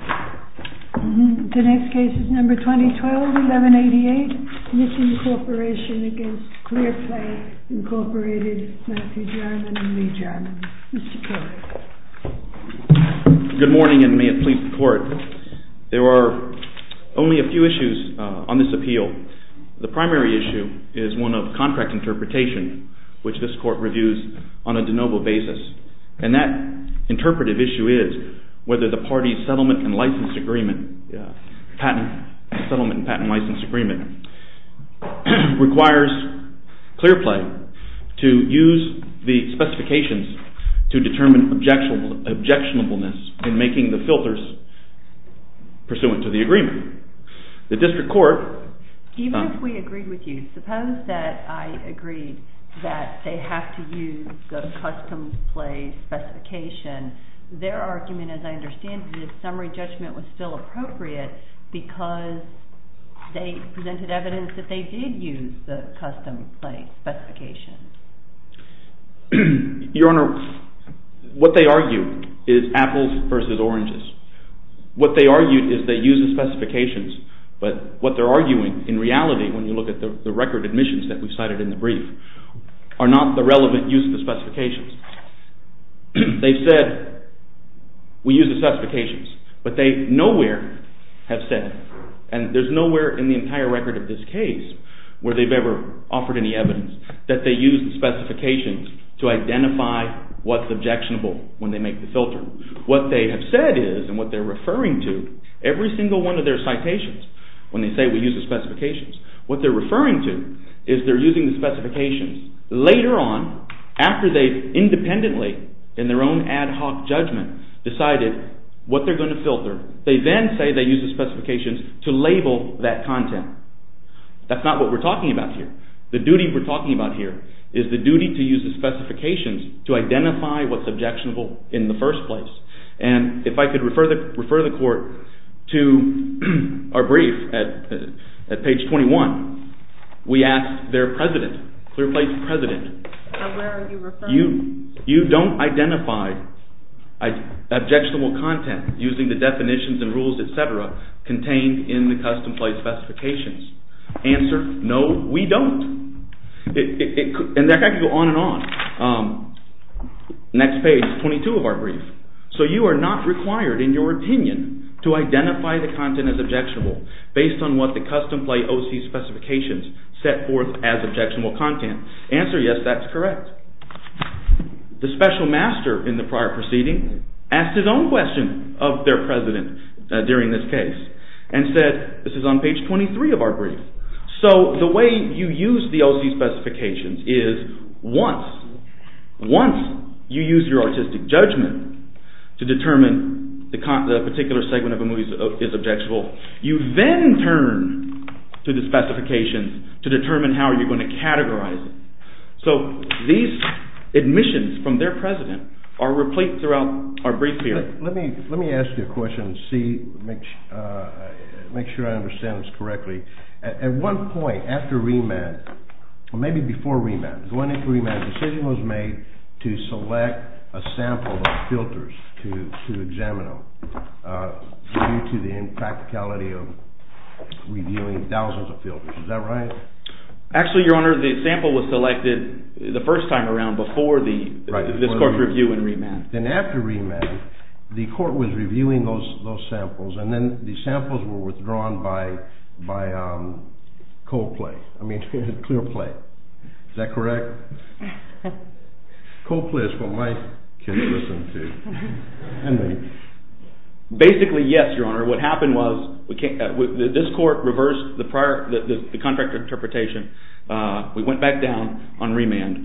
The next case is number 2012, 1188, NISSIM CORP v. CLEARPLAY v. Matthew Jarman v. Lee Jarman. Mr. Kelly. Good morning and may it please the Court. There are only a few issues on this appeal. The primary issue is one of contract interpretation, which this Court reviews on a de novo basis. And that interpretive issue is whether the parties settlement and patent license agreement requires CLEARPLAY to use the specifications to determine objectionableness in making the filters pursuant to the agreement. Even if we agreed with you, suppose that I agreed that they have to use the custom play specification. Their argument, as I understand it, is summary judgment was still appropriate because they presented evidence that they did use the custom play specification. Your Honor, what they argued is apples versus oranges. What they argued is they use the specifications, but what they are arguing in reality, when you look at the record admissions that we cited in the brief, are not the relevant use of the specifications. They said we use the specifications, but they nowhere have said, and there is nowhere in the entire record of this case where they have ever offered any evidence that they use the specifications to identify what is objectionable when they make the filter. What they have said is, and what they are referring to, every single one of their citations when they say we use the specifications, what they are referring to is they are using the specifications later on after they independently in their own ad hoc judgment decided what they are going to filter. They then say they use the specifications to label that content. That is not what we are talking about here. The duty we are talking about here is the duty to use the specifications to identify what is objectionable in the first place. And if I could refer the court to our brief at page 21, we asked their president, clear-placed president. Where are you referring to? You do not identify objectionable content using the definitions and rules, etc., contained in the custom play specifications. Answer, no, we do not. And that can go on and on. Next page, 22 of our brief. So you are not required in your opinion to identify the content as objectionable based on what the custom play OC specifications set forth as objectionable content. Answer, yes, that is correct. The special master in the prior proceeding asked his own question of their president during this case and said, this is on page 23 of our brief. So the way you use the OC specifications is once you use your artistic judgment to determine the particular segment of a movie is objectionable, you then turn to the specifications to determine how you are going to categorize it. So these admissions from their president are replete throughout our brief here. Let me ask you a question and make sure I understand this correctly. At one point after remand, or maybe before remand, the decision was made to select a sample of filters to examine them due to the impracticality of reviewing thousands of filters. Is that right? Actually, your honor, the sample was selected the first time around before this court's review and remand. Then after remand, the court was reviewing those samples and then the samples were withdrawn by co-play, I mean clear play. Is that correct? Co-play is what my kids listen to. Basically, yes, your honor. What happened was this court reversed the contract interpretation. We went back down on remand.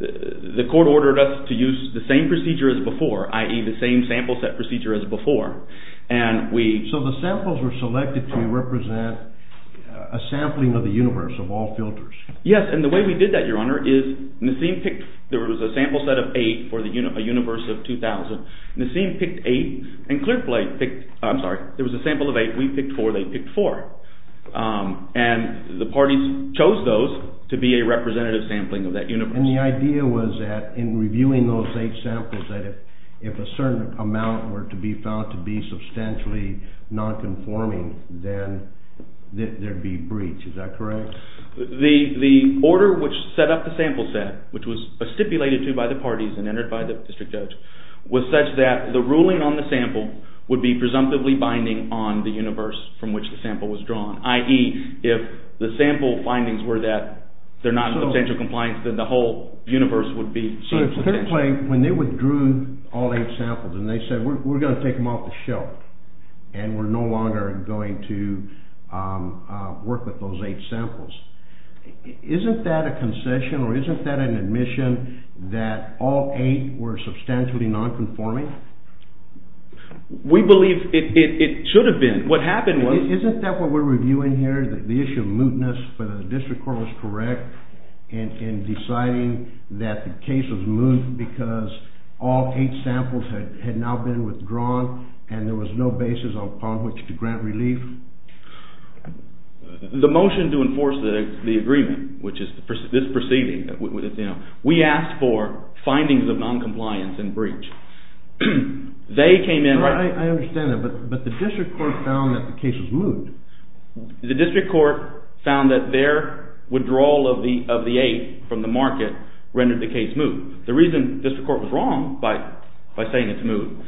The court ordered us to use the same procedure as before, i.e. the same sample set procedure as before. So the samples were selected to represent a sampling of the universe of all filters. Yes, and the way we did that, your honor, is Nassim picked – there was a sample set of 8 for a universe of 2,000. Nassim picked 8 and clear play picked – I'm sorry, there was a sample of 8. We picked 4. They picked 4. And the parties chose those to be a representative sampling of that universe. And the idea was that in reviewing those 8 samples that if a certain amount were to be found to be substantially nonconforming, then there'd be breach. Is that correct? The order which set up the sample set, which was stipulated to by the parties and entered by the district judge, was such that the ruling on the sample would be presumptively binding on the universe from which the sample was drawn, i.e. if the sample findings were that they're not of substantial compliance, then the whole universe would be subject to… So if clear play, when they withdrew all 8 samples and they said we're going to take them off the shelf and we're no longer going to work with those 8 samples, isn't that a concession or isn't that an admission that all 8 were substantially nonconforming? We believe it should have been. What happened was… Isn't that what we're reviewing here, the issue of mootness, whether the district court was correct in deciding that the case was moot because all 8 samples had now been withdrawn and there was no basis upon which to grant relief? The motion to enforce the agreement, which is this proceeding, we asked for findings of noncompliance and breach. I understand that, but the district court found that the case was moot. The district court found that their withdrawal of the 8 from the market rendered the case moot. The reason the district court was wrong by saying it's moot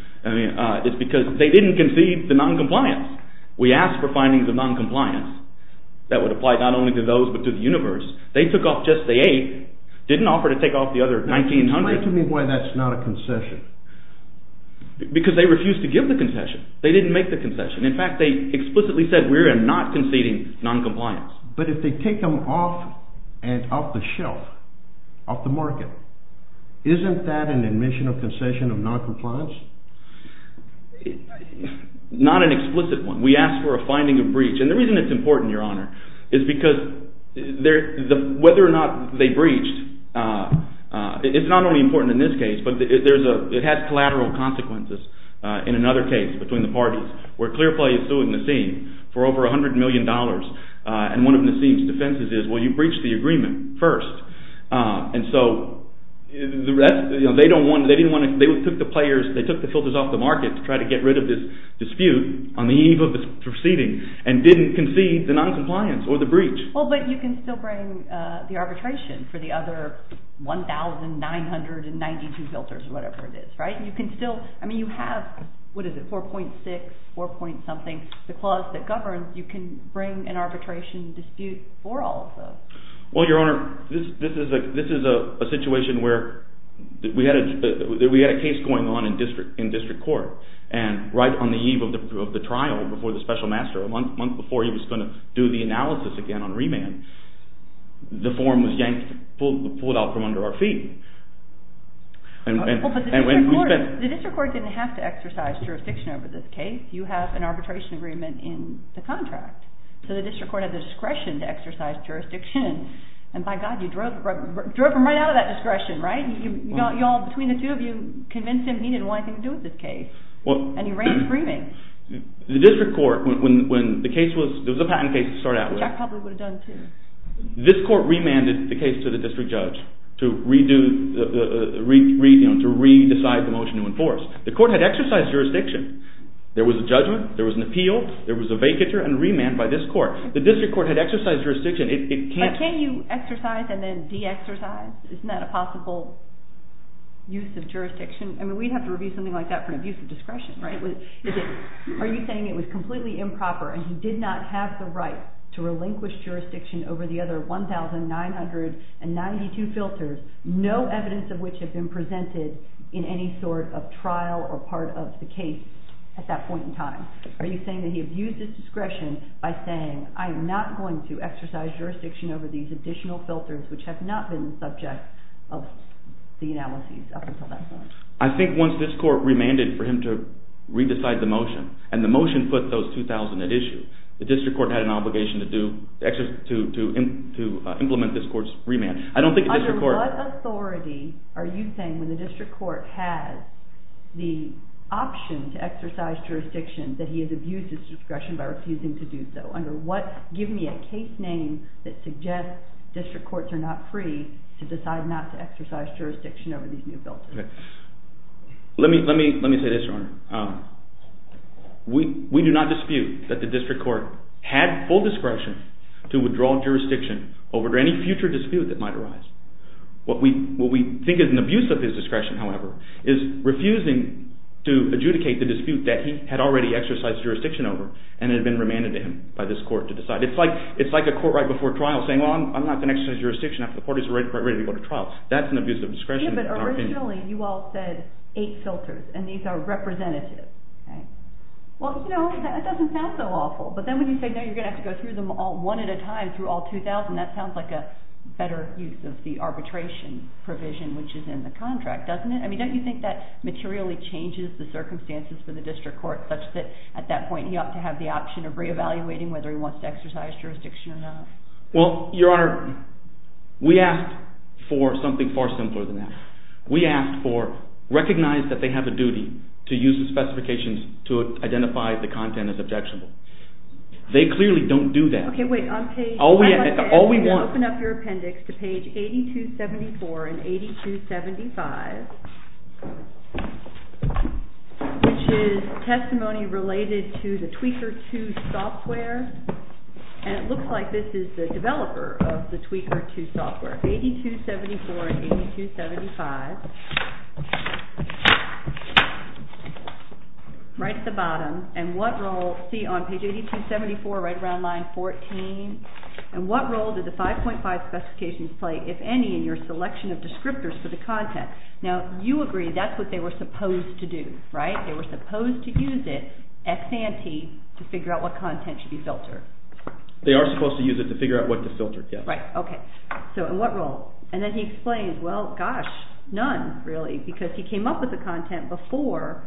is because they didn't concede the noncompliance. We asked for findings of noncompliance that would apply not only to those but to the universe. They took off just the 8, didn't offer to take off the other 1900. Explain to me why that's not a concession. Because they refused to give the concession. They didn't make the concession. In fact, they explicitly said we are not conceding noncompliance. But if they take them off and off the shelf, off the market, isn't that an admission of concession of noncompliance? Not an explicit one. We asked for a finding of breach. And the reason it's important, Your Honor, is because whether or not they breached is not only important in this case, but it has collateral consequences in another case between the parties where Clearplay is suing Nassim for over $100 million. And one of Nassim's defenses is, well, you breached the agreement first. And so they took the filters off the market to try to get rid of this dispute on the eve of the proceeding and didn't concede the noncompliance or the breach. Well, but you can still bring the arbitration for the other 1992 filters or whatever it is, right? You can still – I mean you have, what is it, 4.6, 4 point something, the clause that governs. You can bring an arbitration dispute for all of those. Well, Your Honor, this is a situation where we had a case going on in district court. And right on the eve of the trial before the special master, a month before he was going to do the analysis again on remand, the form was pulled out from under our feet. Well, but the district court didn't have to exercise jurisdiction over this case. You have an arbitration agreement in the contract. So the district court had the discretion to exercise jurisdiction. And by God, you drove him right out of that discretion, right? Y'all, between the two of you convinced him he didn't want anything to do with this case. And he ran screaming. The district court, when the case was – it was a patent case to start out with. Which I probably would have done too. This court remanded the case to the district judge to re-decide the motion to enforce. The court had exercised jurisdiction. There was a judgment, there was an appeal, there was a vacature and remand by this court. The district court had exercised jurisdiction. But can't you exercise and then de-exercise? Isn't that a possible use of jurisdiction? I mean, we'd have to review something like that for an abuse of discretion, right? Are you saying it was completely improper and he did not have the right to relinquish jurisdiction over the other 1,992 filters, no evidence of which had been presented in any sort of trial or part of the case at that point in time? Are you saying that he abused his discretion by saying, I'm not going to exercise jurisdiction over these additional filters which have not been the subject of the analyses up until that point? I think once this court remanded for him to re-decide the motion, and the motion put those 2,000 at issue, the district court had an obligation to implement this court's remand. Under what authority are you saying when the district court has the option to exercise jurisdiction that he has abused his discretion by refusing to do so? Under what – give me a case name that suggests district courts are not free to decide not to exercise jurisdiction over these new filters. We do not dispute that the district court had full discretion to withdraw jurisdiction over any future dispute that might arise. What we think is an abuse of his discretion, however, is refusing to adjudicate the dispute that he had already exercised jurisdiction over and had been remanded to him by this court to decide. It's like a court right before trial saying, well, I'm not going to exercise jurisdiction after the court is ready to go to trial. Originally, you all said eight filters, and these are representative. Well, you know, that doesn't sound so awful. But then when you say, no, you're going to have to go through them all one at a time, through all 2,000, that sounds like a better use of the arbitration provision which is in the contract, doesn't it? I mean, don't you think that materially changes the circumstances for the district court such that at that point he ought to have the option of reevaluating whether he wants to exercise jurisdiction or not? Well, Your Honor, we asked for something far simpler than that. We asked for recognize that they have a duty to use the specifications to identify the content as objectionable. They clearly don't do that. Okay, wait. I'd like to ask you to open up your appendix to page 8274 and 8275, which is testimony related to the Tweaker 2 software. And it looks like this is the developer of the Tweaker 2 software, 8274 and 8275, right at the bottom. And what role, see on page 8274, right around line 14, and what role did the 5.5 specifications play, if any, in your selection of descriptors for the content? Now, you agree that's what they were supposed to do, right? They were supposed to use it, ex ante, to figure out what content should be filtered. They are supposed to use it to figure out what to filter, yes. Right, okay. So in what role? And then he explains, well, gosh, none really because he came up with the content before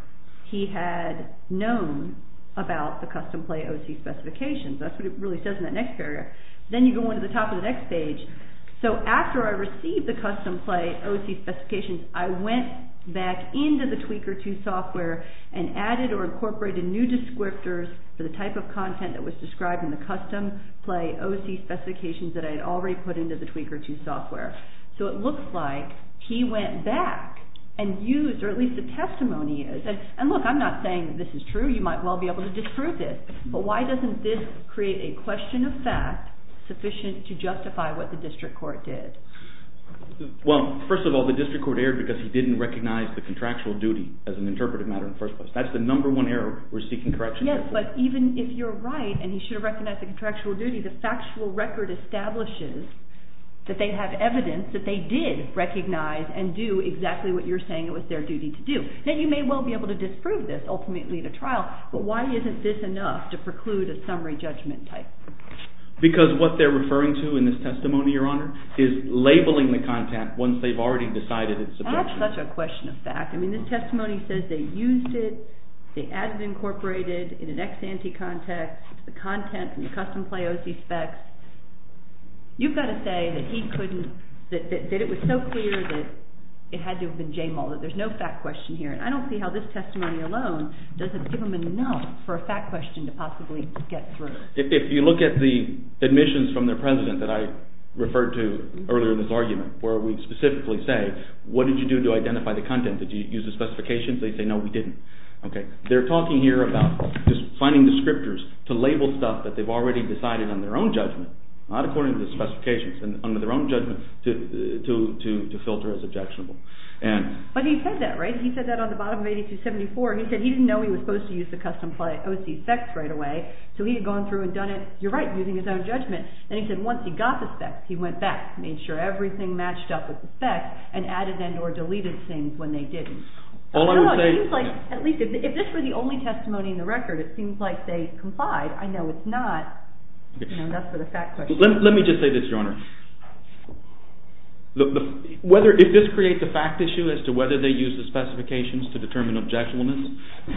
he had known about the custom play OC specifications. That's what it really says in that next paragraph. Then you go on to the top of the next page. So after I received the custom play OC specifications, I went back into the Tweaker 2 software and added or incorporated new descriptors for the type of content that was described in the custom play OC specifications that I had already put into the Tweaker 2 software. So it looks like he went back and used, or at least the testimony is, and look, I'm not saying that this is true. You might well be able to disprove it. But why doesn't this create a question of fact sufficient to justify what the district court did? Well, first of all, the district court erred because he didn't recognize the contractual duty as an interpretive matter in the first place. That's the number one error we're seeking correction for. Yes, but even if you're right and he should have recognized the contractual duty, the factual record establishes that they have evidence that they did recognize and do exactly what you're saying it was their duty to do. Now, you may well be able to disprove this ultimately in a trial, but why isn't this enough to preclude a summary judgment type? Because what they're referring to in this testimony, Your Honor, is labeling the content once they've already decided it's subjective. That's such a question of fact. I mean, this testimony says they used it, they added or incorporated in an ex-ante context the content from the custom play OC specs. You've got to say that he couldn't, that it was so clear that it had to have been J. Muller. There's no fact question here. And I don't see how this testimony alone doesn't give them enough for a fact question to possibly get through. If you look at the admissions from their president that I referred to earlier in this argument where we specifically say, what did you do to identify the content? Did you use the specifications? They say, no, we didn't. They're talking here about finding descriptors to label stuff that they've already decided on their own judgment, not according to the specifications, and under their own judgment to filter as objectionable. But he said that, right? He said that on the bottom of 8274. He said he didn't know he was supposed to use the custom play OC specs right away, so he had gone through and done it, you're right, using his own judgment. And he said once he got the specs, he went back, made sure everything matched up with the specs, and added and or deleted things when they didn't. It seems like, at least if this were the only testimony in the record, it seems like they complied. I know it's not. That's for the fact question. Let me just say this, Your Honor. If this creates a fact issue as to whether they used the specifications to determine objectionableness,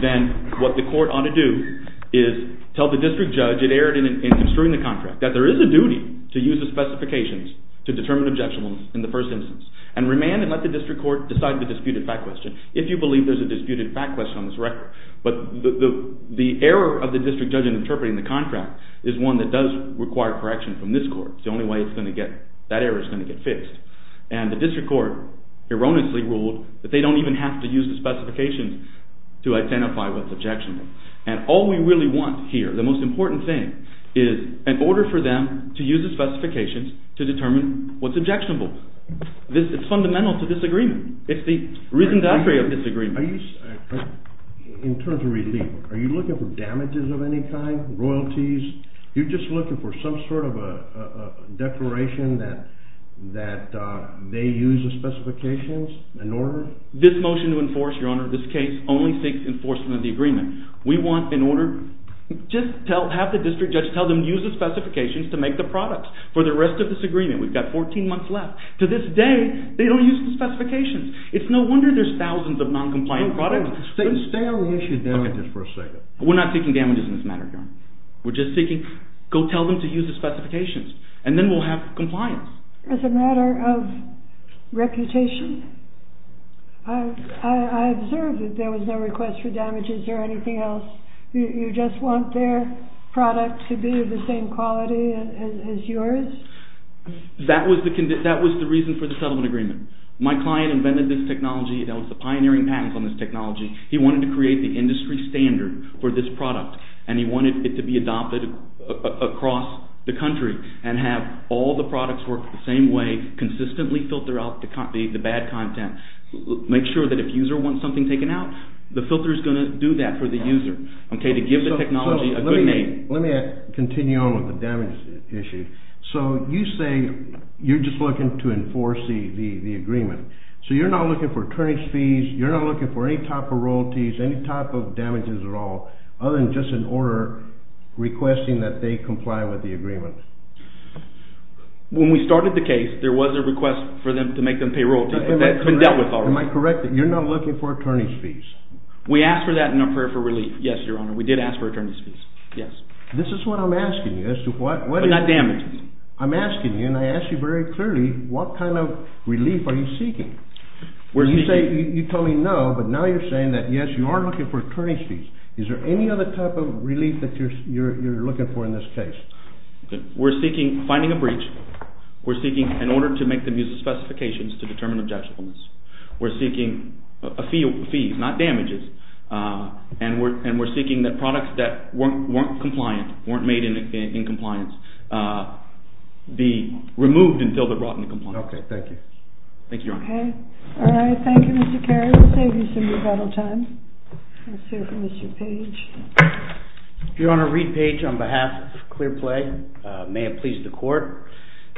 then what the court ought to do is tell the district judge it erred in construing the contract, that there is a duty to use the specifications to determine objectionableness in the first instance, and remand and let the district court decide the disputed fact question, if you believe there's a disputed fact question on this record. But the error of the district judge in interpreting the contract is one that does require correction from this court. It's the only way that error is going to get fixed. And the district court erroneously ruled that they don't even have to use the specifications to identify what's objectionable. And all we really want here, the most important thing, is an order for them to use the specifications to determine what's objectionable. It's fundamental to this agreement. It's the reasonability of this agreement. In terms of relief, are you looking for damages of any kind, royalties? You're just looking for some sort of a declaration that they use the specifications in order? This motion to enforce, Your Honor, this case only seeks enforcement of the agreement. We want, in order, just have the district judge tell them to use the specifications to make the product. For the rest of this agreement, we've got 14 months left. To this day, they don't use the specifications. It's no wonder there's thousands of noncompliant products. Stay on the issue of damages for a second. We're not seeking damages in this matter, Your Honor. We're just seeking, go tell them to use the specifications. And then we'll have compliance. As a matter of reputation, I observed that there was no request for damages or anything else. You just want their product to be of the same quality as yours? That was the reason for the settlement agreement. My client invented this technology. It was the pioneering patents on this technology. He wanted to create the industry standard for this product, and he wanted it to be adopted across the country and have all the products work the same way, consistently filter out the bad content. Make sure that if a user wants something taken out, the filter is going to do that for the user, to give the technology a good name. Let me continue on with the damages issue. So you say you're just looking to enforce the agreement. So you're not looking for attorney's fees. You're not looking for any type of royalties, any type of damages at all, other than just an order requesting that they comply with the agreement. When we started the case, there was a request for them to make them pay royalties. That's been dealt with already. Am I correct that you're not looking for attorney's fees? We asked for that in our prayer for relief, yes, Your Honor. We did ask for attorney's fees, yes. This is what I'm asking you as to what? But not damages. I'm asking you, and I ask you very clearly, what kind of relief are you seeking? You say you totally know, but now you're saying that, yes, you are looking for attorney's fees. Is there any other type of relief that you're looking for in this case? We're seeking finding a breach. We're seeking an order to make the user's specifications to determine objectionableness. We're seeking a fee, not damages. And we're seeking that products that weren't compliant, weren't made in compliance, be removed until they're brought into compliance. Okay, thank you. Thank you, Your Honor. Okay. All right, thank you, Mr. Carey. We'll save you some rebuttal time. Let's hear from Mr. Page. Your Honor, Reed Page on behalf of ClearPlay. May it please the Court.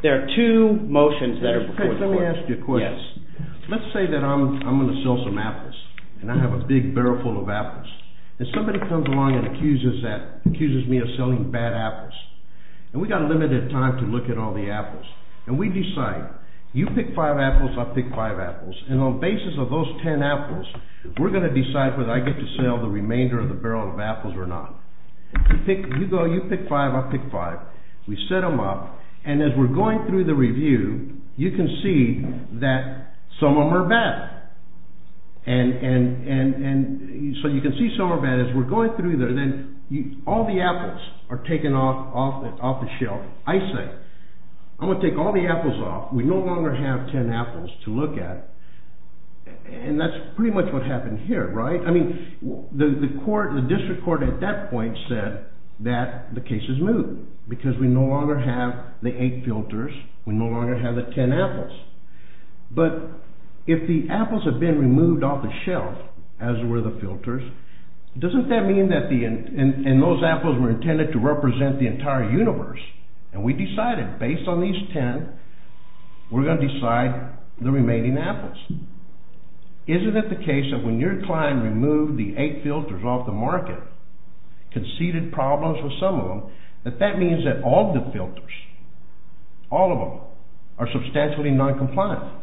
There are two motions that are before the Court. Mr. Page, let me ask you a question. Yes. Let's say that I'm going to sell some apples and I have a big barrel full of apples. And somebody comes along and accuses me of selling bad apples. And we've got a limited time to look at all the apples. And we decide, you pick five apples, I'll pick five apples. And on the basis of those ten apples, we're going to decide whether I get to sell the remainder of the barrel of apples or not. You go, you pick five, I'll pick five. We set them up. And as we're going through the review, you can see that some of them are bad. And so you can see some are bad. As we're going through there, then all the apples are taken off the shelf. I say, I'm going to take all the apples off. We no longer have ten apples to look at. And that's pretty much what happened here, right? The district court at that point said that the case is moved because we no longer have the eight filters. We no longer have the ten apples. But if the apples have been removed off the shelf, as were the filters, doesn't that mean that those apples were intended to represent the entire universe? And we decided, based on these ten, we're going to decide the remaining apples. Isn't it the case that when your client removed the eight filters off the market, conceded problems with some of them, that that means that all the filters, all of them, are substantially noncompliant?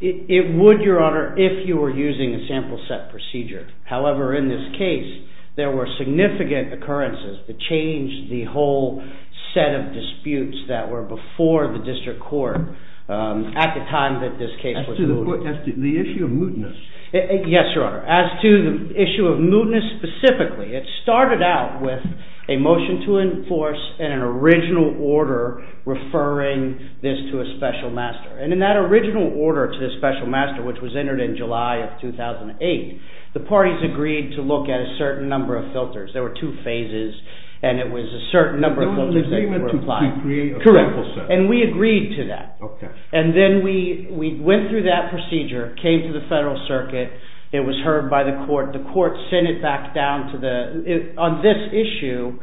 It would, Your Honor, if you were using a sample set procedure. However, in this case, there were significant occurrences that changed the whole set of disputes that were before the district court at the time that this case was moved. As to the issue of mootness? Yes, Your Honor. As to the issue of mootness specifically, it started out with a motion to enforce an original order referring this to a special master. And in that original order to the special master, which was entered in July of 2008, the parties agreed to look at a certain number of filters. There were two phases, and it was a certain number of filters that were applied. And we agreed to that. And then we went through that procedure, came to the Federal Circuit. It was heard by the court. The court sent it back down to the… On this issue,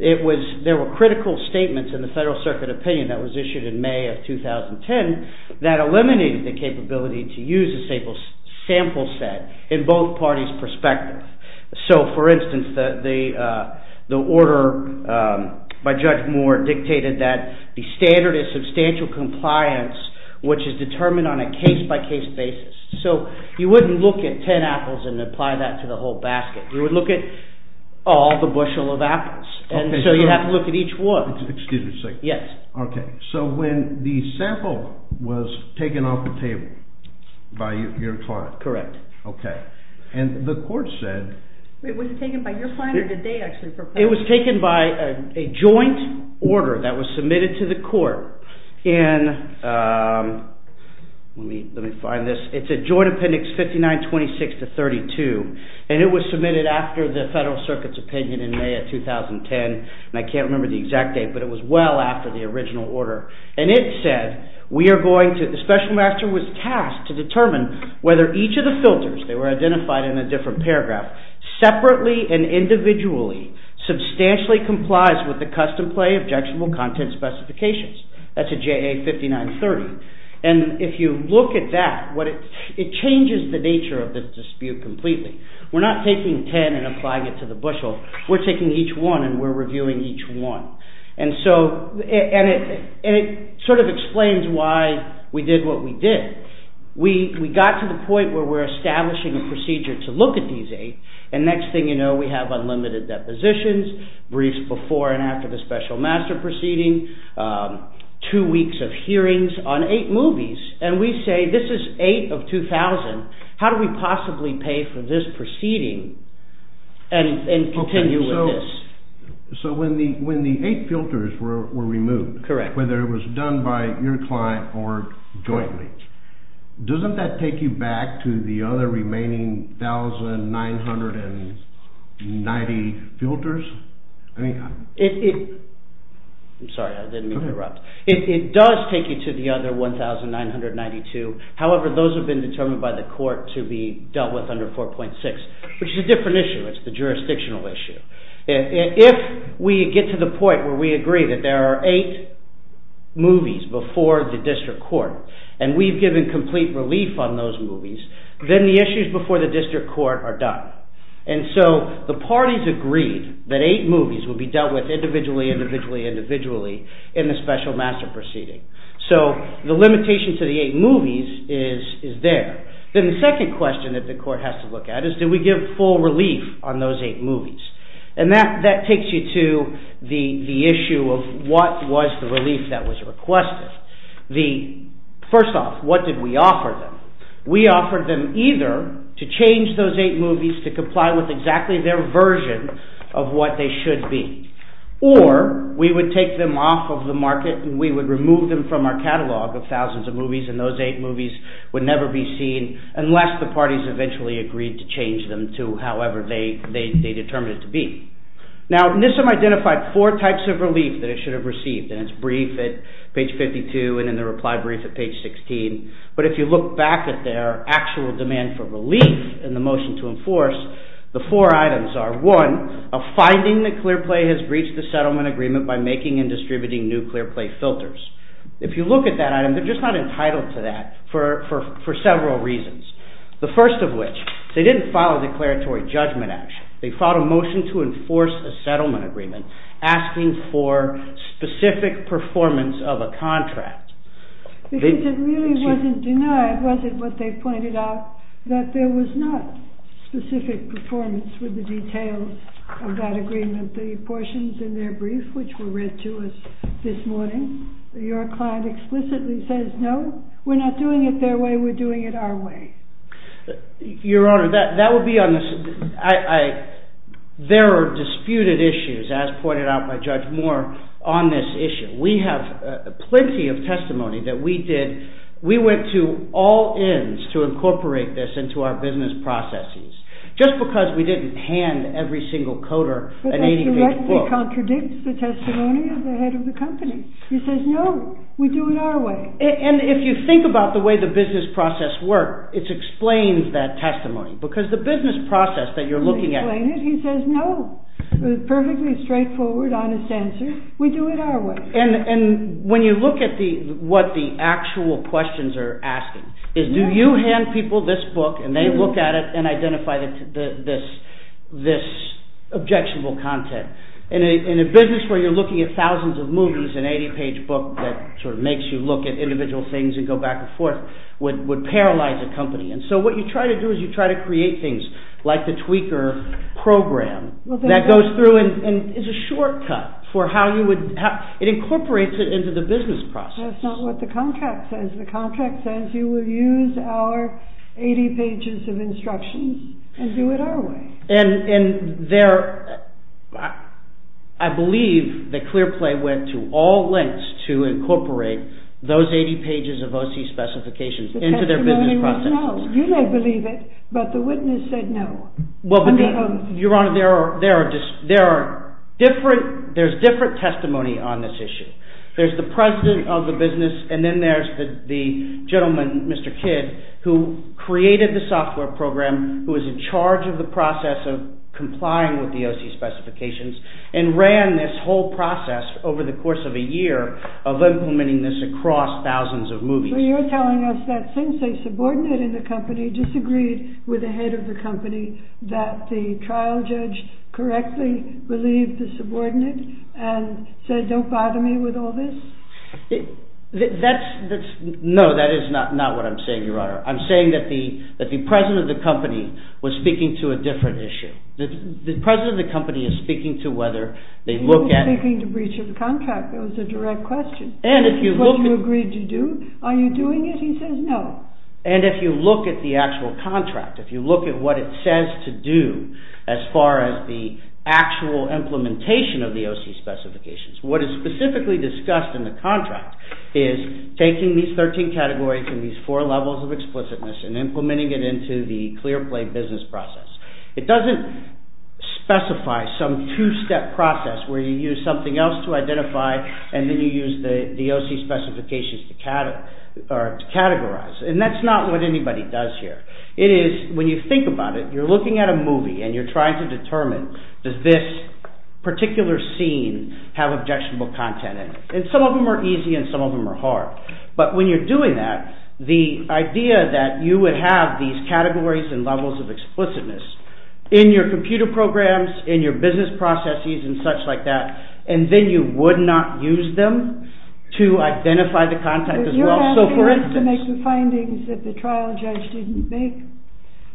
there were critical statements in the Federal Circuit opinion that was issued in May of 2010 that eliminated the capability to use a sample set in both parties' perspective. So, for instance, the order by Judge Moore dictated that the standard is substantial compliance, which is determined on a case-by-case basis. So you wouldn't look at ten apples and apply that to the whole basket. You would look at all the bushel of apples. And so you'd have to look at each one. Excuse me a second. Yes. Okay, so when the sample was taken off the table by your client. Correct. Okay. And the court said… Wait, was it taken by your client or did they actually propose it? It was taken by a joint order that was submitted to the court in… Let me find this. It's in Joint Appendix 59-26-32, and it was submitted after the Federal Circuit's opinion in May of 2010. And I can't remember the exact date, but it was well after the original order. And it said we are going to… The special master was tasked to determine whether each of the filters, they were identified in a different paragraph, separately and individually substantially complies with the custom play objectionable content specifications. That's a JA 59-30. And if you look at that, it changes the nature of the dispute completely. We're not taking ten and applying it to the bushel. We're taking each one and we're reviewing each one. And it sort of explains why we did what we did. We got to the point where we're establishing a procedure to look at these eight, and next thing you know we have unlimited depositions, briefs before and after the special master proceeding, two weeks of hearings on eight movies. And we say this is eight of 2,000. How do we possibly pay for this proceeding and continue with this? So when the eight filters were removed, whether it was done by your client or jointly, doesn't that take you back to the other remaining 1,990 filters? I'm sorry, I didn't mean to interrupt. It does take you to the other 1,992. However, those have been determined by the court to be dealt with under 4.6, which is a different issue. It's the jurisdictional issue. If we get to the point where we agree that there are eight movies before the district court and we've given complete relief on those movies, then the issues before the district court are done. And so the parties agreed that eight movies would be dealt with individually, individually, individually in the special master proceeding. So the limitation to the eight movies is there. Then the second question that the court has to look at is do we give full relief on those eight movies? And that takes you to the issue of what was the relief that was requested. First off, what did we offer them? We offered them either to change those eight movies to comply with exactly their version of what they should be, or we would take them off of the market and we would remove them from our catalog of thousands of movies and those eight movies would never be seen unless the parties eventually agreed to change them to however they determined it to be. Now, NISM identified four types of relief that it should have received, and it's briefed at page 52 and in the reply brief at page 16. But if you look back at their actual demand for relief in the motion to enforce, the four items are, one, a finding that Clearplay has breached the settlement agreement by making and distributing new Clearplay filters. If you look at that item, they're just not entitled to that for several reasons. The first of which, they didn't file a declaratory judgment action. They filed a motion to enforce a settlement agreement asking for specific performance of a contract. Because it really wasn't denied, was it, what they pointed out, that there was not specific performance with the details of that agreement. The portions in their brief which were read to us this morning your client explicitly says, no, we're not doing it their way, we're doing it our way. Your Honor, that would be on the... There are disputed issues, as pointed out by Judge Moore, on this issue. We have plenty of testimony that we did... We went to all ends to incorporate this into our business processes. Just because we didn't hand every single coder an 80-page book... But that directly contradicts the testimony of the head of the company. He says, no, we do it our way. And if you think about the way the business process works, it explains that testimony. Because the business process that you're looking at... He says, no, perfectly straightforward, honest answer, we do it our way. And when you look at what the actual questions are asking, is do you hand people this book and they look at it and identify this objectionable content? In a business where you're looking at thousands of movies, an 80-page book that makes you look at individual things and go back and forth would paralyze a company. So what you try to do is you try to create things like the tweaker program that goes through and is a shortcut for how you would... It incorporates it into the business process. That's not what the contract says. The contract says you will use our 80 pages of instructions and do it our way. And I believe that Clearplay went to all lengths to incorporate those 80 pages of OC specifications into their business process. The testimony was no. You may believe it, but the witness said no. Your Honor, there's different testimony on this issue. There's the president of the business and then there's the gentleman, Mr. Kidd, who created the software program, who is in charge of the process of complying with the OC specifications, and ran this whole process over the course of a year of implementing this across thousands of movies. So you're telling us that since a subordinate in the company disagreed with the head of the company that the trial judge correctly relieved the subordinate and said, don't bother me with all this? No, that is not what I'm saying, Your Honor. I'm saying that the president of the company was speaking to a different issue. The president of the company is speaking to whether they look at... He wasn't speaking to breach of contract. That was a direct question. This is what you agreed to do? Are you doing it? He says no. And if you look at the actual contract, if you look at what it says to do as far as the actual implementation of the OC specifications, what is specifically discussed in the contract is taking these 13 categories and these four levels of explicitness and implementing it into the clear play business process. It doesn't specify some two-step process where you use something else to identify and then you use the OC specifications to categorize. And that's not what anybody does here. It is, when you think about it, you're looking at a movie and you're trying to determine does this particular scene have objectionable content in it. And some of them are easy and some of them are hard. But when you're doing that, the idea that you would have these categories and levels of explicitness in your computer programs, in your business processes and such like that, and then you would not use them to identify the content as well. So for instance... You're asking us to make the findings that the trial judge didn't make.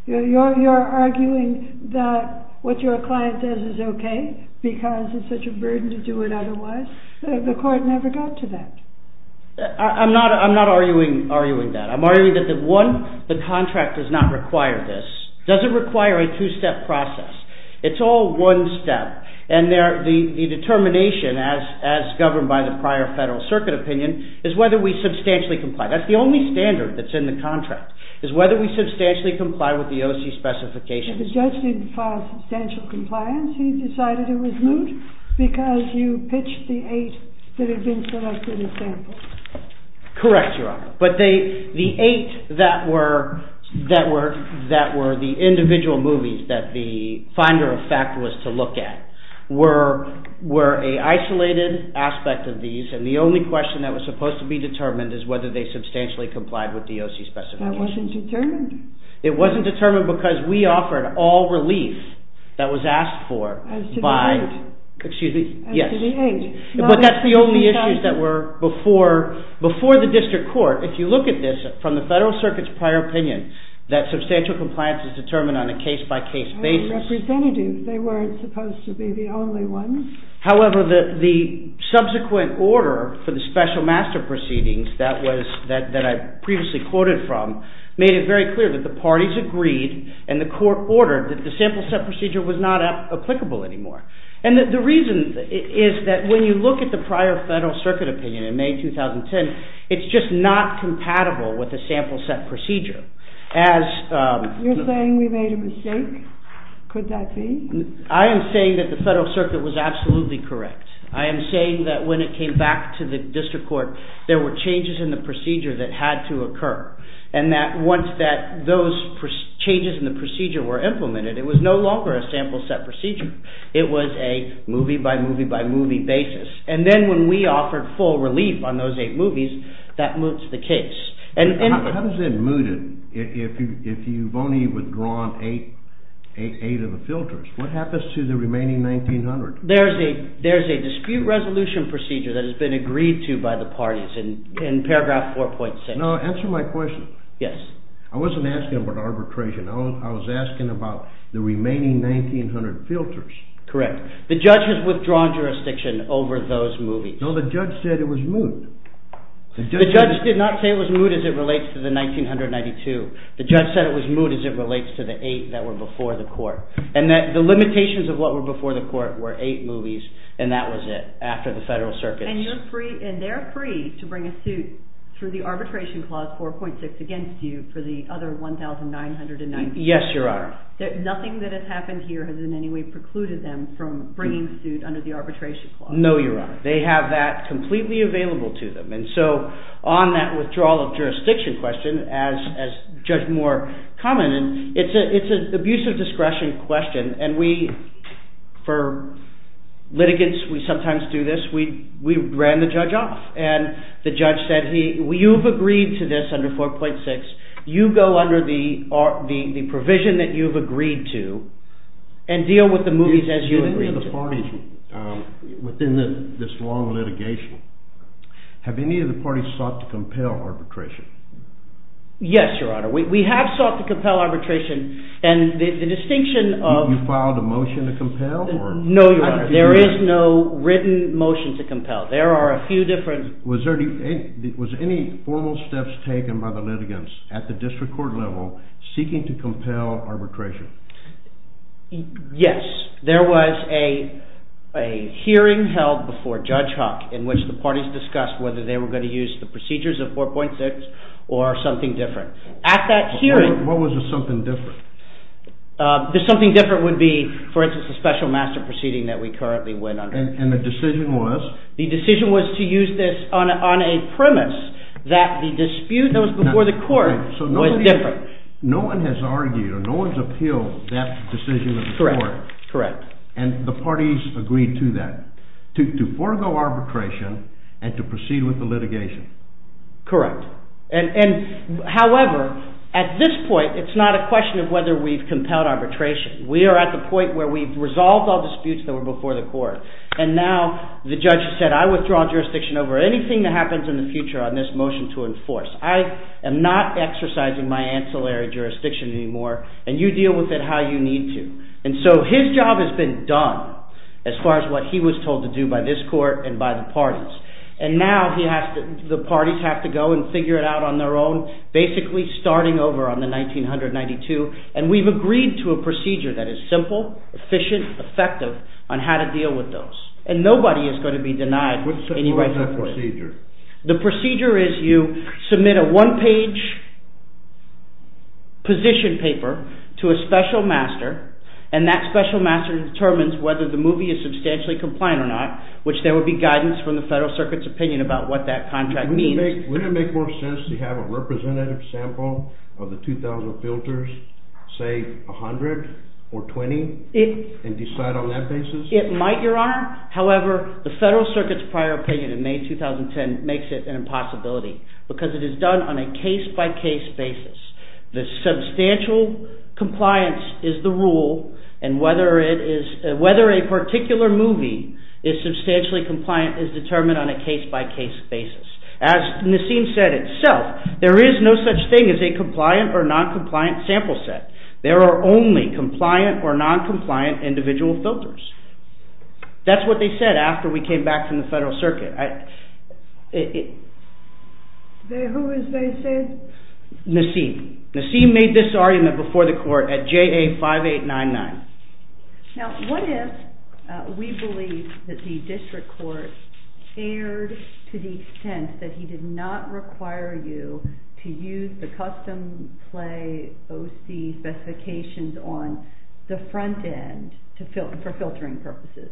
You're arguing that what your client does is okay because it's such a burden to do it otherwise. The court never got to that. I'm not arguing that. I'm arguing that the contract does not require this. It doesn't require a two-step process. It's all one step. And the determination, as governed by the prior Federal Circuit opinion, is whether we substantially comply. That's the only standard that's in the contract, is whether we substantially comply with the OC specifications. If the judge didn't file substantial compliance, he decided it was moot because you pitched the eight that had been selected as samples. Correct, Your Honor. But the eight that were the individual movies that the finder of fact was to look at were an isolated aspect of these, and the only question that was supposed to be determined is whether they substantially complied with the OC specifications. That wasn't determined. It wasn't determined because we offered all relief that was asked for by... As to the eight. Excuse me. As to the eight. But that's the only issues that were before the district court. If you look at this from the Federal Circuit's prior opinion that substantial compliance is determined on a case-by-case basis... They were representative. They weren't supposed to be the only ones. However, the subsequent order for the special master proceedings that I previously quoted from made it very clear that the parties agreed and the court ordered that the sample set procedure was not applicable anymore. And the reason is that when you look at the prior Federal Circuit opinion in May 2010, it's just not compatible with the sample set procedure. You're saying we made a mistake? Could that be? I am saying that the Federal Circuit was absolutely correct. I am saying that when it came back to the district court there were changes in the procedure that had to occur, and that once those changes in the procedure were implemented it was no longer a sample set procedure. It was a movie-by-movie-by-movie basis. And then when we offered full relief on those eight movies that moved to the case. How does that move it if you've only withdrawn eight of the filters? What happens to the remaining 1,900? There's a dispute resolution procedure that has been agreed to by the parties in paragraph 4.6. Answer my question. Yes. I wasn't asking about arbitration. I was asking about the remaining 1,900 filters. Correct. The judge has withdrawn jurisdiction over those movies. No, the judge said it was moot. The judge did not say it was moot as it relates to the 1,992. The judge said it was moot as it relates to the eight that were before the court. And the limitations of what were before the court were eight movies, and that was it, after the Federal Circuit. And they're free to bring a suit through the Arbitration Clause 4.6 against you for the other 1,992. Yes, Your Honor. Nothing that has happened here has in any way precluded them from bringing suit under the Arbitration Clause. No, Your Honor. They have that completely available to them. And so on that withdrawal of jurisdiction question, as Judge Moore commented, it's an abuse of discretion question, and we, for litigants, we sometimes do this. We ran the judge off, and the judge said, you've agreed to this under 4.6. You go under the provision that you've agreed to and deal with the movies as you agreed to. Within this long litigation, have any of the parties sought to compel arbitration? Yes, Your Honor. We have sought to compel arbitration, You filed a motion to compel? No, Your Honor. There is no written motion to compel. There are a few different... Was any formal steps taken by the litigants at the district court level seeking to compel arbitration? Yes. There was a hearing held before Judge Huck in which the parties discussed whether they were going to use the procedures of 4.6 or something different. At that hearing... What was the something different? The something different would be, for instance, the special master proceeding that we currently went under. And the decision was? The decision was to use this on a premise that the dispute that was before the court was different. No one has argued or no one has appealed that decision of the court. Correct. And the parties agreed to that, to forego arbitration and to proceed with the litigation. Correct. However, at this point, it's not a question of whether we've compelled arbitration. We are at the point where we've resolved all disputes that were before the court. And now the judge has said, I withdraw jurisdiction over anything that happens in the future on this motion to enforce. I am not exercising my ancillary jurisdiction anymore and you deal with it how you need to. And so his job has been done as far as what he was told to do by this court and by the parties. And now the parties have to go and figure it out on their own, basically starting over on the 1992. And we've agreed to a procedure that is simple, efficient, effective on how to deal with those. And nobody is going to be denied any right to play. What is that procedure? The procedure is you submit a one-page position paper to a special master and that special master determines whether the movie is substantially compliant or not, which there will be guidance from the Federal Circuit's opinion about what that contract means. Wouldn't it make more sense to have a representative sample of the 2,000 filters, say 100 or 20, and decide on that basis? It might, Your Honor. However, the Federal Circuit's prior opinion in May 2010 makes it an impossibility because it is done on a case-by-case basis. The substantial compliance is the rule and whether a particular movie is substantially compliant is determined on a case-by-case basis. As Nassim said itself, there is no such thing as a compliant or non-compliant sample set. There are only compliant or non-compliant individual filters. That's what they said after we came back from the Federal Circuit. Who was they saying? Nassim. Nassim made this argument before the Court at JA-5899. Now, what if we believe that the District Court cared to the extent that he did not require you to use the custom play OC specifications on the front end for filtering purposes?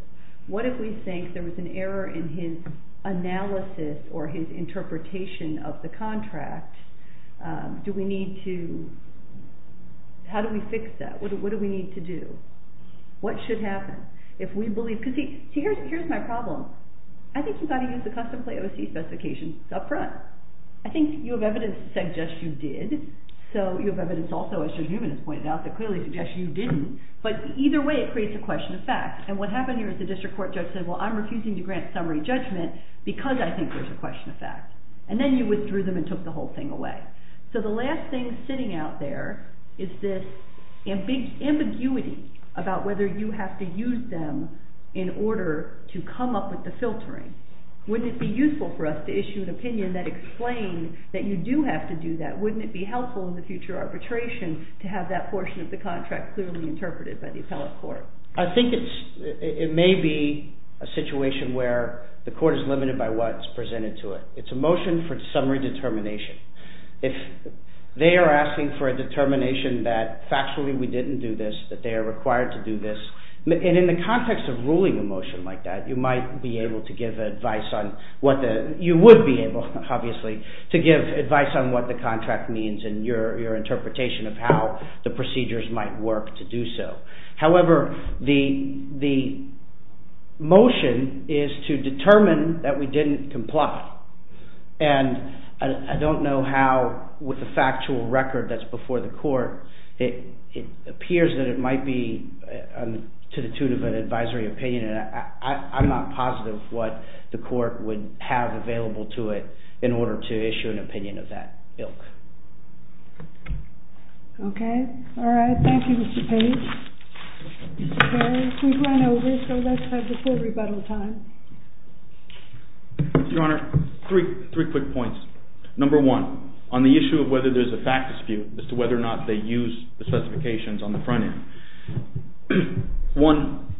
What if we think there was an error in his analysis or his interpretation of the contract? Do we need to... How do we fix that? What do we need to do? What should happen if we believe... Here's my problem. I think you've got to use the custom play OC specifications up front. I think you have evidence to suggest you did. You have evidence also, as Judge Newman has pointed out, that clearly suggests you didn't. Either way, it creates a question of fact. What happened here is the District Court judge said, I'm refusing to grant summary judgment because I think there's a question of fact. Then you withdrew them and took the whole thing away. The last thing sitting out there is this ambiguity about whether you have to use them in order to come up with the filtering. Wouldn't it be useful for us to issue an opinion that explains that you do have to do that? Wouldn't it be helpful in the future arbitration to have that portion of the contract clearly interpreted by the appellate court? I think it may be a situation where the court is limited by what's presented to it. It's a motion for summary determination. If they are asking for a determination that factually we didn't do this, that they are required to do this. In the context of ruling a motion like that, you might be able to give advice on what the... You would be able, obviously, to give advice on what the contract means and your interpretation of how the procedures might work to do so. However, the motion is to determine that we didn't comply. It appears that it might be to the tune of an advisory opinion, and I'm not positive what the court would have available to it in order to issue an opinion of that ilk. Okay. All right. Thank you, Mr. Page. We've run over, so let's have a good rebuttal time. Your Honor, three quick points. Number one, on the issue of whether there's a fact dispute as to whether or not they use the specifications on the front end. One,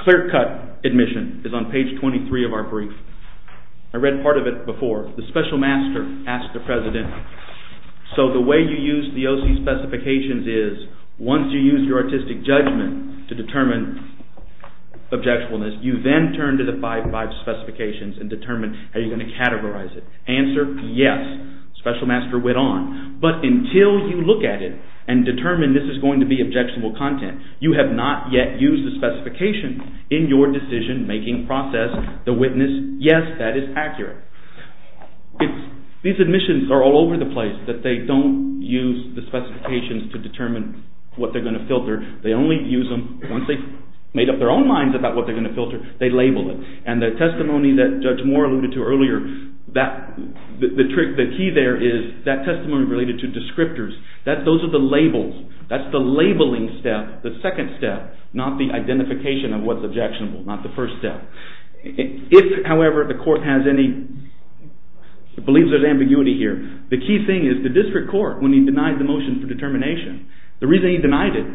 clear-cut admission is on page 23 of our brief. I read part of it before. The special master asked the president, so the way you use the O.C. specifications is once you use your artistic judgment to determine objectfulness, you then turn to the 5.5 specifications and determine how you're going to categorize it. Answer, yes. Special master went on. But until you look at it and determine this is going to be objectionable content, you have not yet used the specifications in your decision-making process. The witness, yes, that is accurate. These admissions are all over the place, that they don't use the specifications to determine what they're going to filter. They only use them once they've made up their own minds about what they're going to filter, they label it. And the testimony that Judge Moore alluded to earlier, the key there is that testimony related to descriptors, those are the labels. That's the labeling step, the second step, not the identification of what's objectionable, not the first step. If, however, the court has any, believes there's ambiguity here, the key thing is the district court, when he denied the motion for determination, the reason he denied it,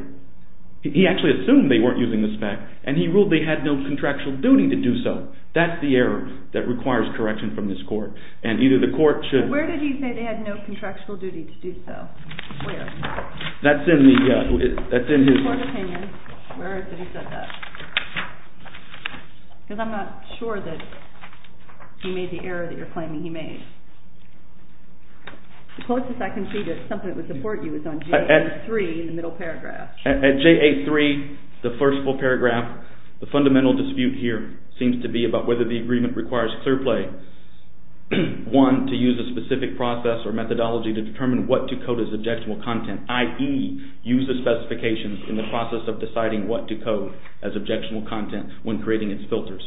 he actually assumed they weren't using the spec, and he ruled they had no contractual duty to do so. That's the error that requires correction from this court, and either the court should... Where did he say they had no contractual duty to do so? Where? That's in his... In his court opinion, where did he say that? Because I'm not sure that he made the error that you're claiming he made. The closest I can see to something that would support you is on JA3, in the middle paragraph. At JA3, the first full paragraph, the fundamental dispute here seems to be about whether the agreement requires clear play. One, to use a specific process or methodology to determine what to code as objectionable content, i.e. use the specifications in the process of deciding what to code as objectionable content when creating its filters.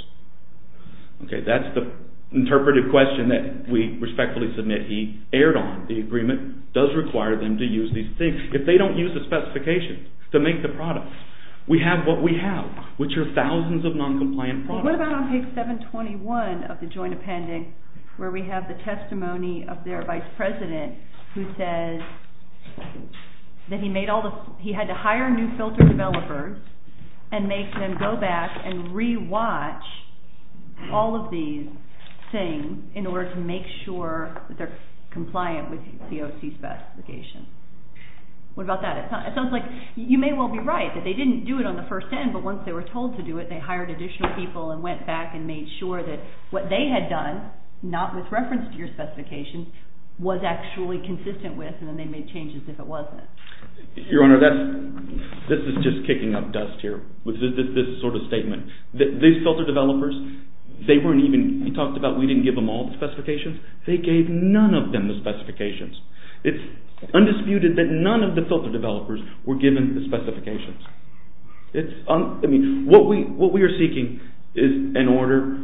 Okay, that's the interpretive question that we respectfully submit. He erred on the agreement. It does require them to use these things. If they don't use the specifications to make the products, we have what we have, which are thousands of noncompliant products. Well, what about on page 721 of the joint appendix, where we have the testimony of their vice president, who says that he had to hire new filter developers and make them go back and re-watch all of these things in order to make sure that they're compliant with COC specifications. What about that? It sounds like you may well be right, that they didn't do it on the first hand, but once they were told to do it, they hired additional people and went back and made sure that what they had done, not with reference to your specifications, was actually consistent with, and then they made changes if it wasn't. Your Honor, this is just kicking up dust here, this sort of statement. These filter developers, they weren't even, he talked about we didn't give them all the specifications. They gave none of them the specifications. It's undisputed that none of the filter developers were given the specifications. What we are seeking is an order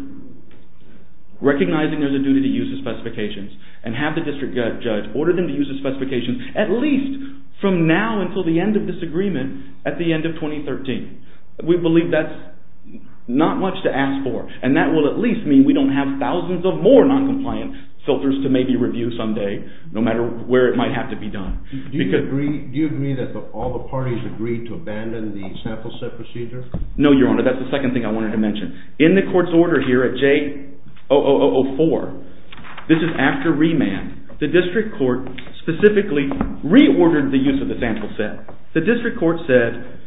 recognizing there's a duty to use the specifications and have the district judge order them to use the specifications at least from now until the end of this agreement at the end of 2013. We believe that's not much to ask for, and that will at least mean we don't have thousands of more noncompliant filters to maybe review someday, no matter where it might have to be done. Do you agree that all the parties agreed to abandon the sample set procedure? No, Your Honor, that's the second thing I wanted to mention. In the court's order here at J0004, this is after remand, the district court specifically reordered the use of the sample set. The district court said,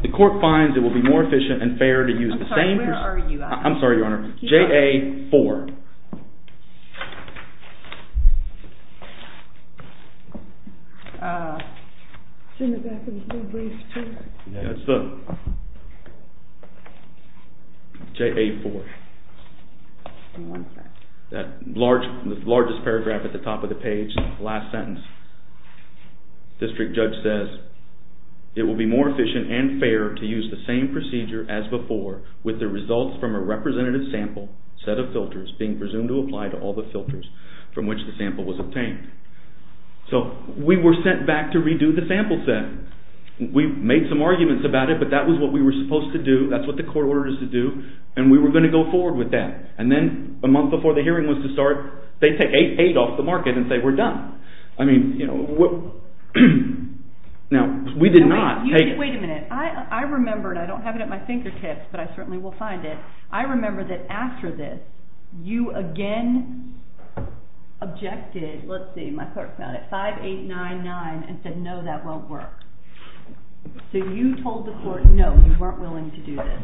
the court finds it will be more efficient and fair to use the same… I'm sorry, where are you at? I'm sorry, Your Honor. J004. The largest paragraph at the top of the page, last sentence. The district judge says, it will be more efficient and fair to use the same procedure as before with the results from a representative sample set of filters being presumed to apply to all the filters from which the sample was obtained. So, we were sent back to redo the sample set. We made some arguments about it, but that was what we were supposed to do. That's what the court ordered us to do, and we were going to go forward with that. And then, a month before the hearing was to start, they take 8-8 off the market and say, we're done. I mean, you know, what… Now, we did not… Wait a minute. I remember, and I don't have it at my fingertips, but I certainly will find it. I remember that after this, you again objected, let's see, my clerk found it, 5-8-9-9 and said, no, that won't work. So, you told the court, no, you weren't willing to do this.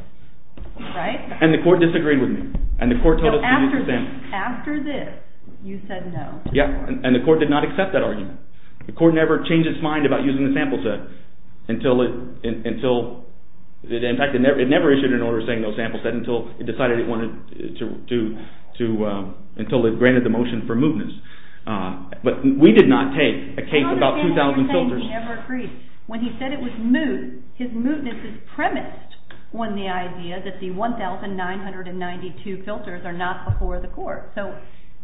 Right? And the court disagreed with me. And the court told us to use the sample set. After this, you said no. Yeah, and the court did not accept that argument. The court never changed its mind about using the sample set until it… In fact, it never issued an order saying no sample set until it decided it wanted to… until it granted the motion for mootness. But we did not take a case about 2,000 filters. He never agreed. When he said it was moot, his mootness is premised on the idea that the 1,992 filters are not before the court. So,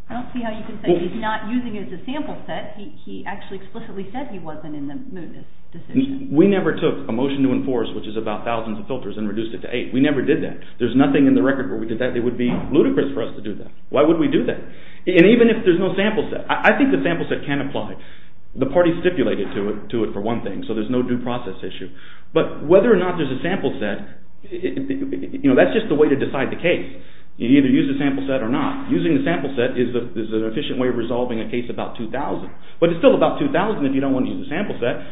I don't see how you can say he's not using it as a sample set. He actually explicitly said he wasn't in the mootness decision. We never took a motion to enforce, which is about thousands of filters, and reduced it to 8. We never did that. There's nothing in the record where we did that. It would be ludicrous for us to do that. Why would we do that? And even if there's no sample set, I think the sample set can apply. The party stipulated to it for one thing, so there's no due process issue. But whether or not there's a sample set, that's just the way to decide the case. You either use the sample set or not. Using the sample set is an efficient way of resolving a case about 2,000. But it's still about 2,000 if you don't want to use the sample set.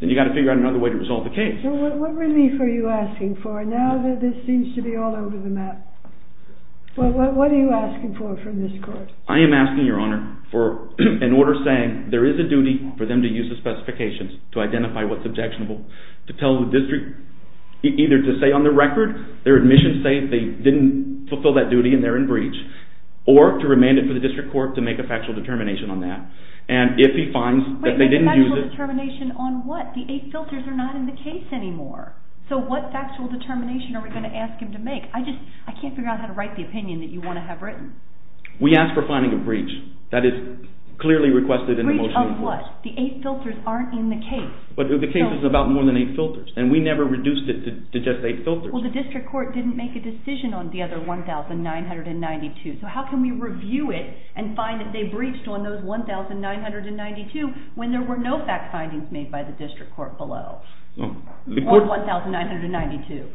Then you've got to figure out another way to resolve the case. So, what really are you asking for now that this seems to be all over the map? What are you asking for from this court? I am asking, Your Honor, for an order saying there is a duty for them to use the specifications to identify what's objectionable. To tell the district either to say on the record their admissions say they didn't fulfill that duty and they're in breach. Or to remand it for the district court to make a factual determination on that. And if he finds that they didn't use it… Wait, a factual determination on what? The eight filters are not in the case anymore. So, what factual determination are we going to ask him to make? I just, I can't figure out how to write the opinion that you want to have written. We ask for finding a breach that is clearly requested in the motion. A breach of what? The eight filters aren't in the case. But the case is about more than eight filters. And we never reduced it to just eight filters. Well, the district court didn't make a decision on the other 1,992. So, how can we review it and find that they breached on those 1,992 when there were no fact findings made by the district court below? Or 1,992?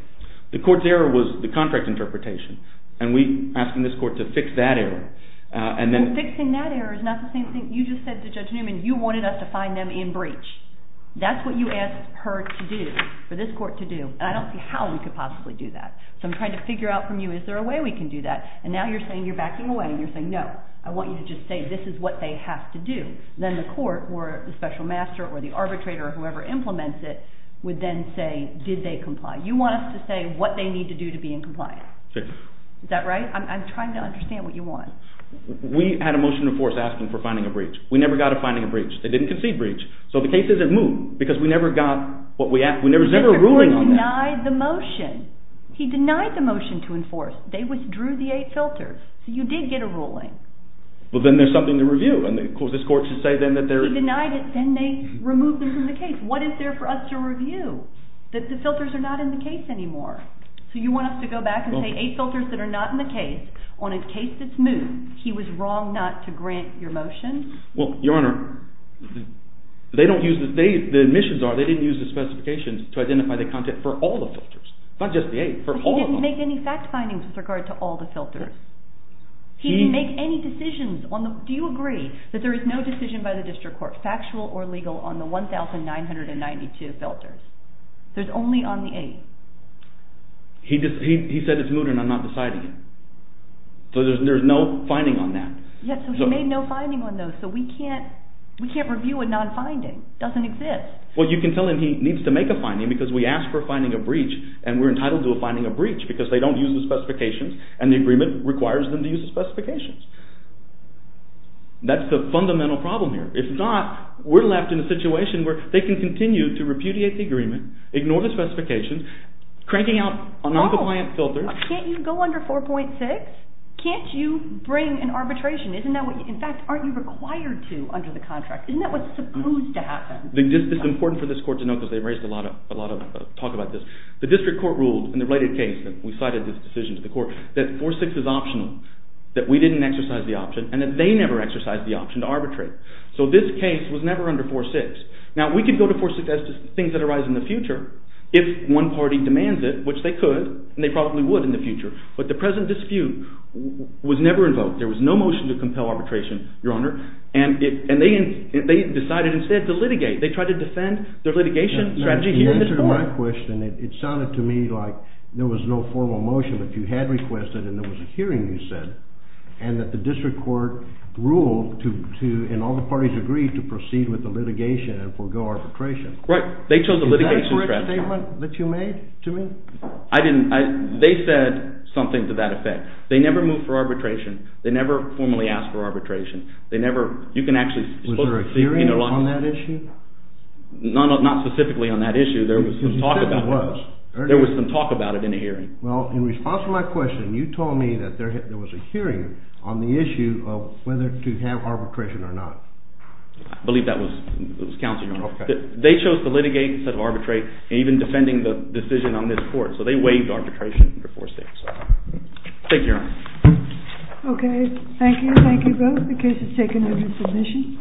The court's error was the contract interpretation. And we're asking this court to fix that error. And fixing that error is not the same thing. You just said to Judge Newman, you wanted us to find them in breach. That's what you asked her to do, for this court to do. And I don't see how we could possibly do that. So I'm trying to figure out from you, is there a way we can do that? And now you're saying you're backing away. And you're saying, no, I want you to just say this is what they have to do. Then the court, or the special master, or the arbitrator, or whoever implements it, would then say, did they comply? You want us to say what they need to do to be in compliance. Is that right? I'm trying to understand what you want. We had a motion in force asking for finding a breach. We never got to finding a breach. They didn't concede breach. So the case isn't moved because we never got what we asked. There was never a ruling on that. The court denied the motion. He denied the motion to enforce. They withdrew the eight filters. So you did get a ruling. Well, then there's something to review. And, of course, this court should say then that they're He denied it. Then they removed them from the case. What is there for us to review? That the filters are not in the case anymore. So you want us to go back and say eight filters that are not in the case, on a case that's moved. He was wrong not to grant your motion. Well, Your Honor, the admissions are they didn't use the specifications to identify the content for all the filters. Not just the eight. For all of them. He didn't make any fact findings with regard to all the filters. He didn't make any decisions. Do you agree that there is no decision by the district court, factual or legal, on the 1,992 filters? There's only on the eight. He said it's moved and I'm not deciding it. So there's no finding on that. Yes, so he made no finding on those. So we can't review a non-finding. It doesn't exist. Well, you can tell him he needs to make a finding because we asked for finding a breach, and we're entitled to a finding of breach because they don't use the specifications, and the agreement requires them to use the specifications. That's the fundamental problem here. If not, we're left in a situation where they can continue to repudiate the agreement, ignore the specifications, cranking out a non-compliant filter. Can't you go under 4.6? Can't you bring an arbitration? In fact, aren't you required to under the contract? Isn't that what's supposed to happen? It's important for this court to know because they've raised a lot of talk about this. The district court ruled in the related case that we cited this decision to the court that 4.6 is optional, that we didn't exercise the option, and that they never exercised the option to arbitrate. So this case was never under 4.6. Now we can go to 4.6 as to things that arise in the future if one party demands it, which they could, and they probably would in the future. But the present dispute was never invoked. There was no motion to compel arbitration, Your Honor, and they decided instead to litigate. They tried to defend their litigation strategy here in this court. To answer my question, it sounded to me like there was no formal motion, but you had requested and there was a hearing you said, and that the district court ruled and all the parties agreed to proceed with the litigation and forego arbitration. Right. They chose a litigation strategy. Is that a correct statement that you made to me? I didn't. They said something to that effect. They never moved for arbitration. They never formally asked for arbitration. They never—you can actually— Was there a hearing on that issue? Not specifically on that issue. Because you said there was. There was some talk about it in a hearing. Well, in response to my question, you told me that there was a hearing on the issue of whether to have arbitration or not. I believe that was counsel, Your Honor. They chose to litigate instead of arbitrate, even defending the decision on this court. So they waived arbitration for 4-6. Thank you, Your Honor. Okay. Thank you. Thank you both. The case is taken into submission.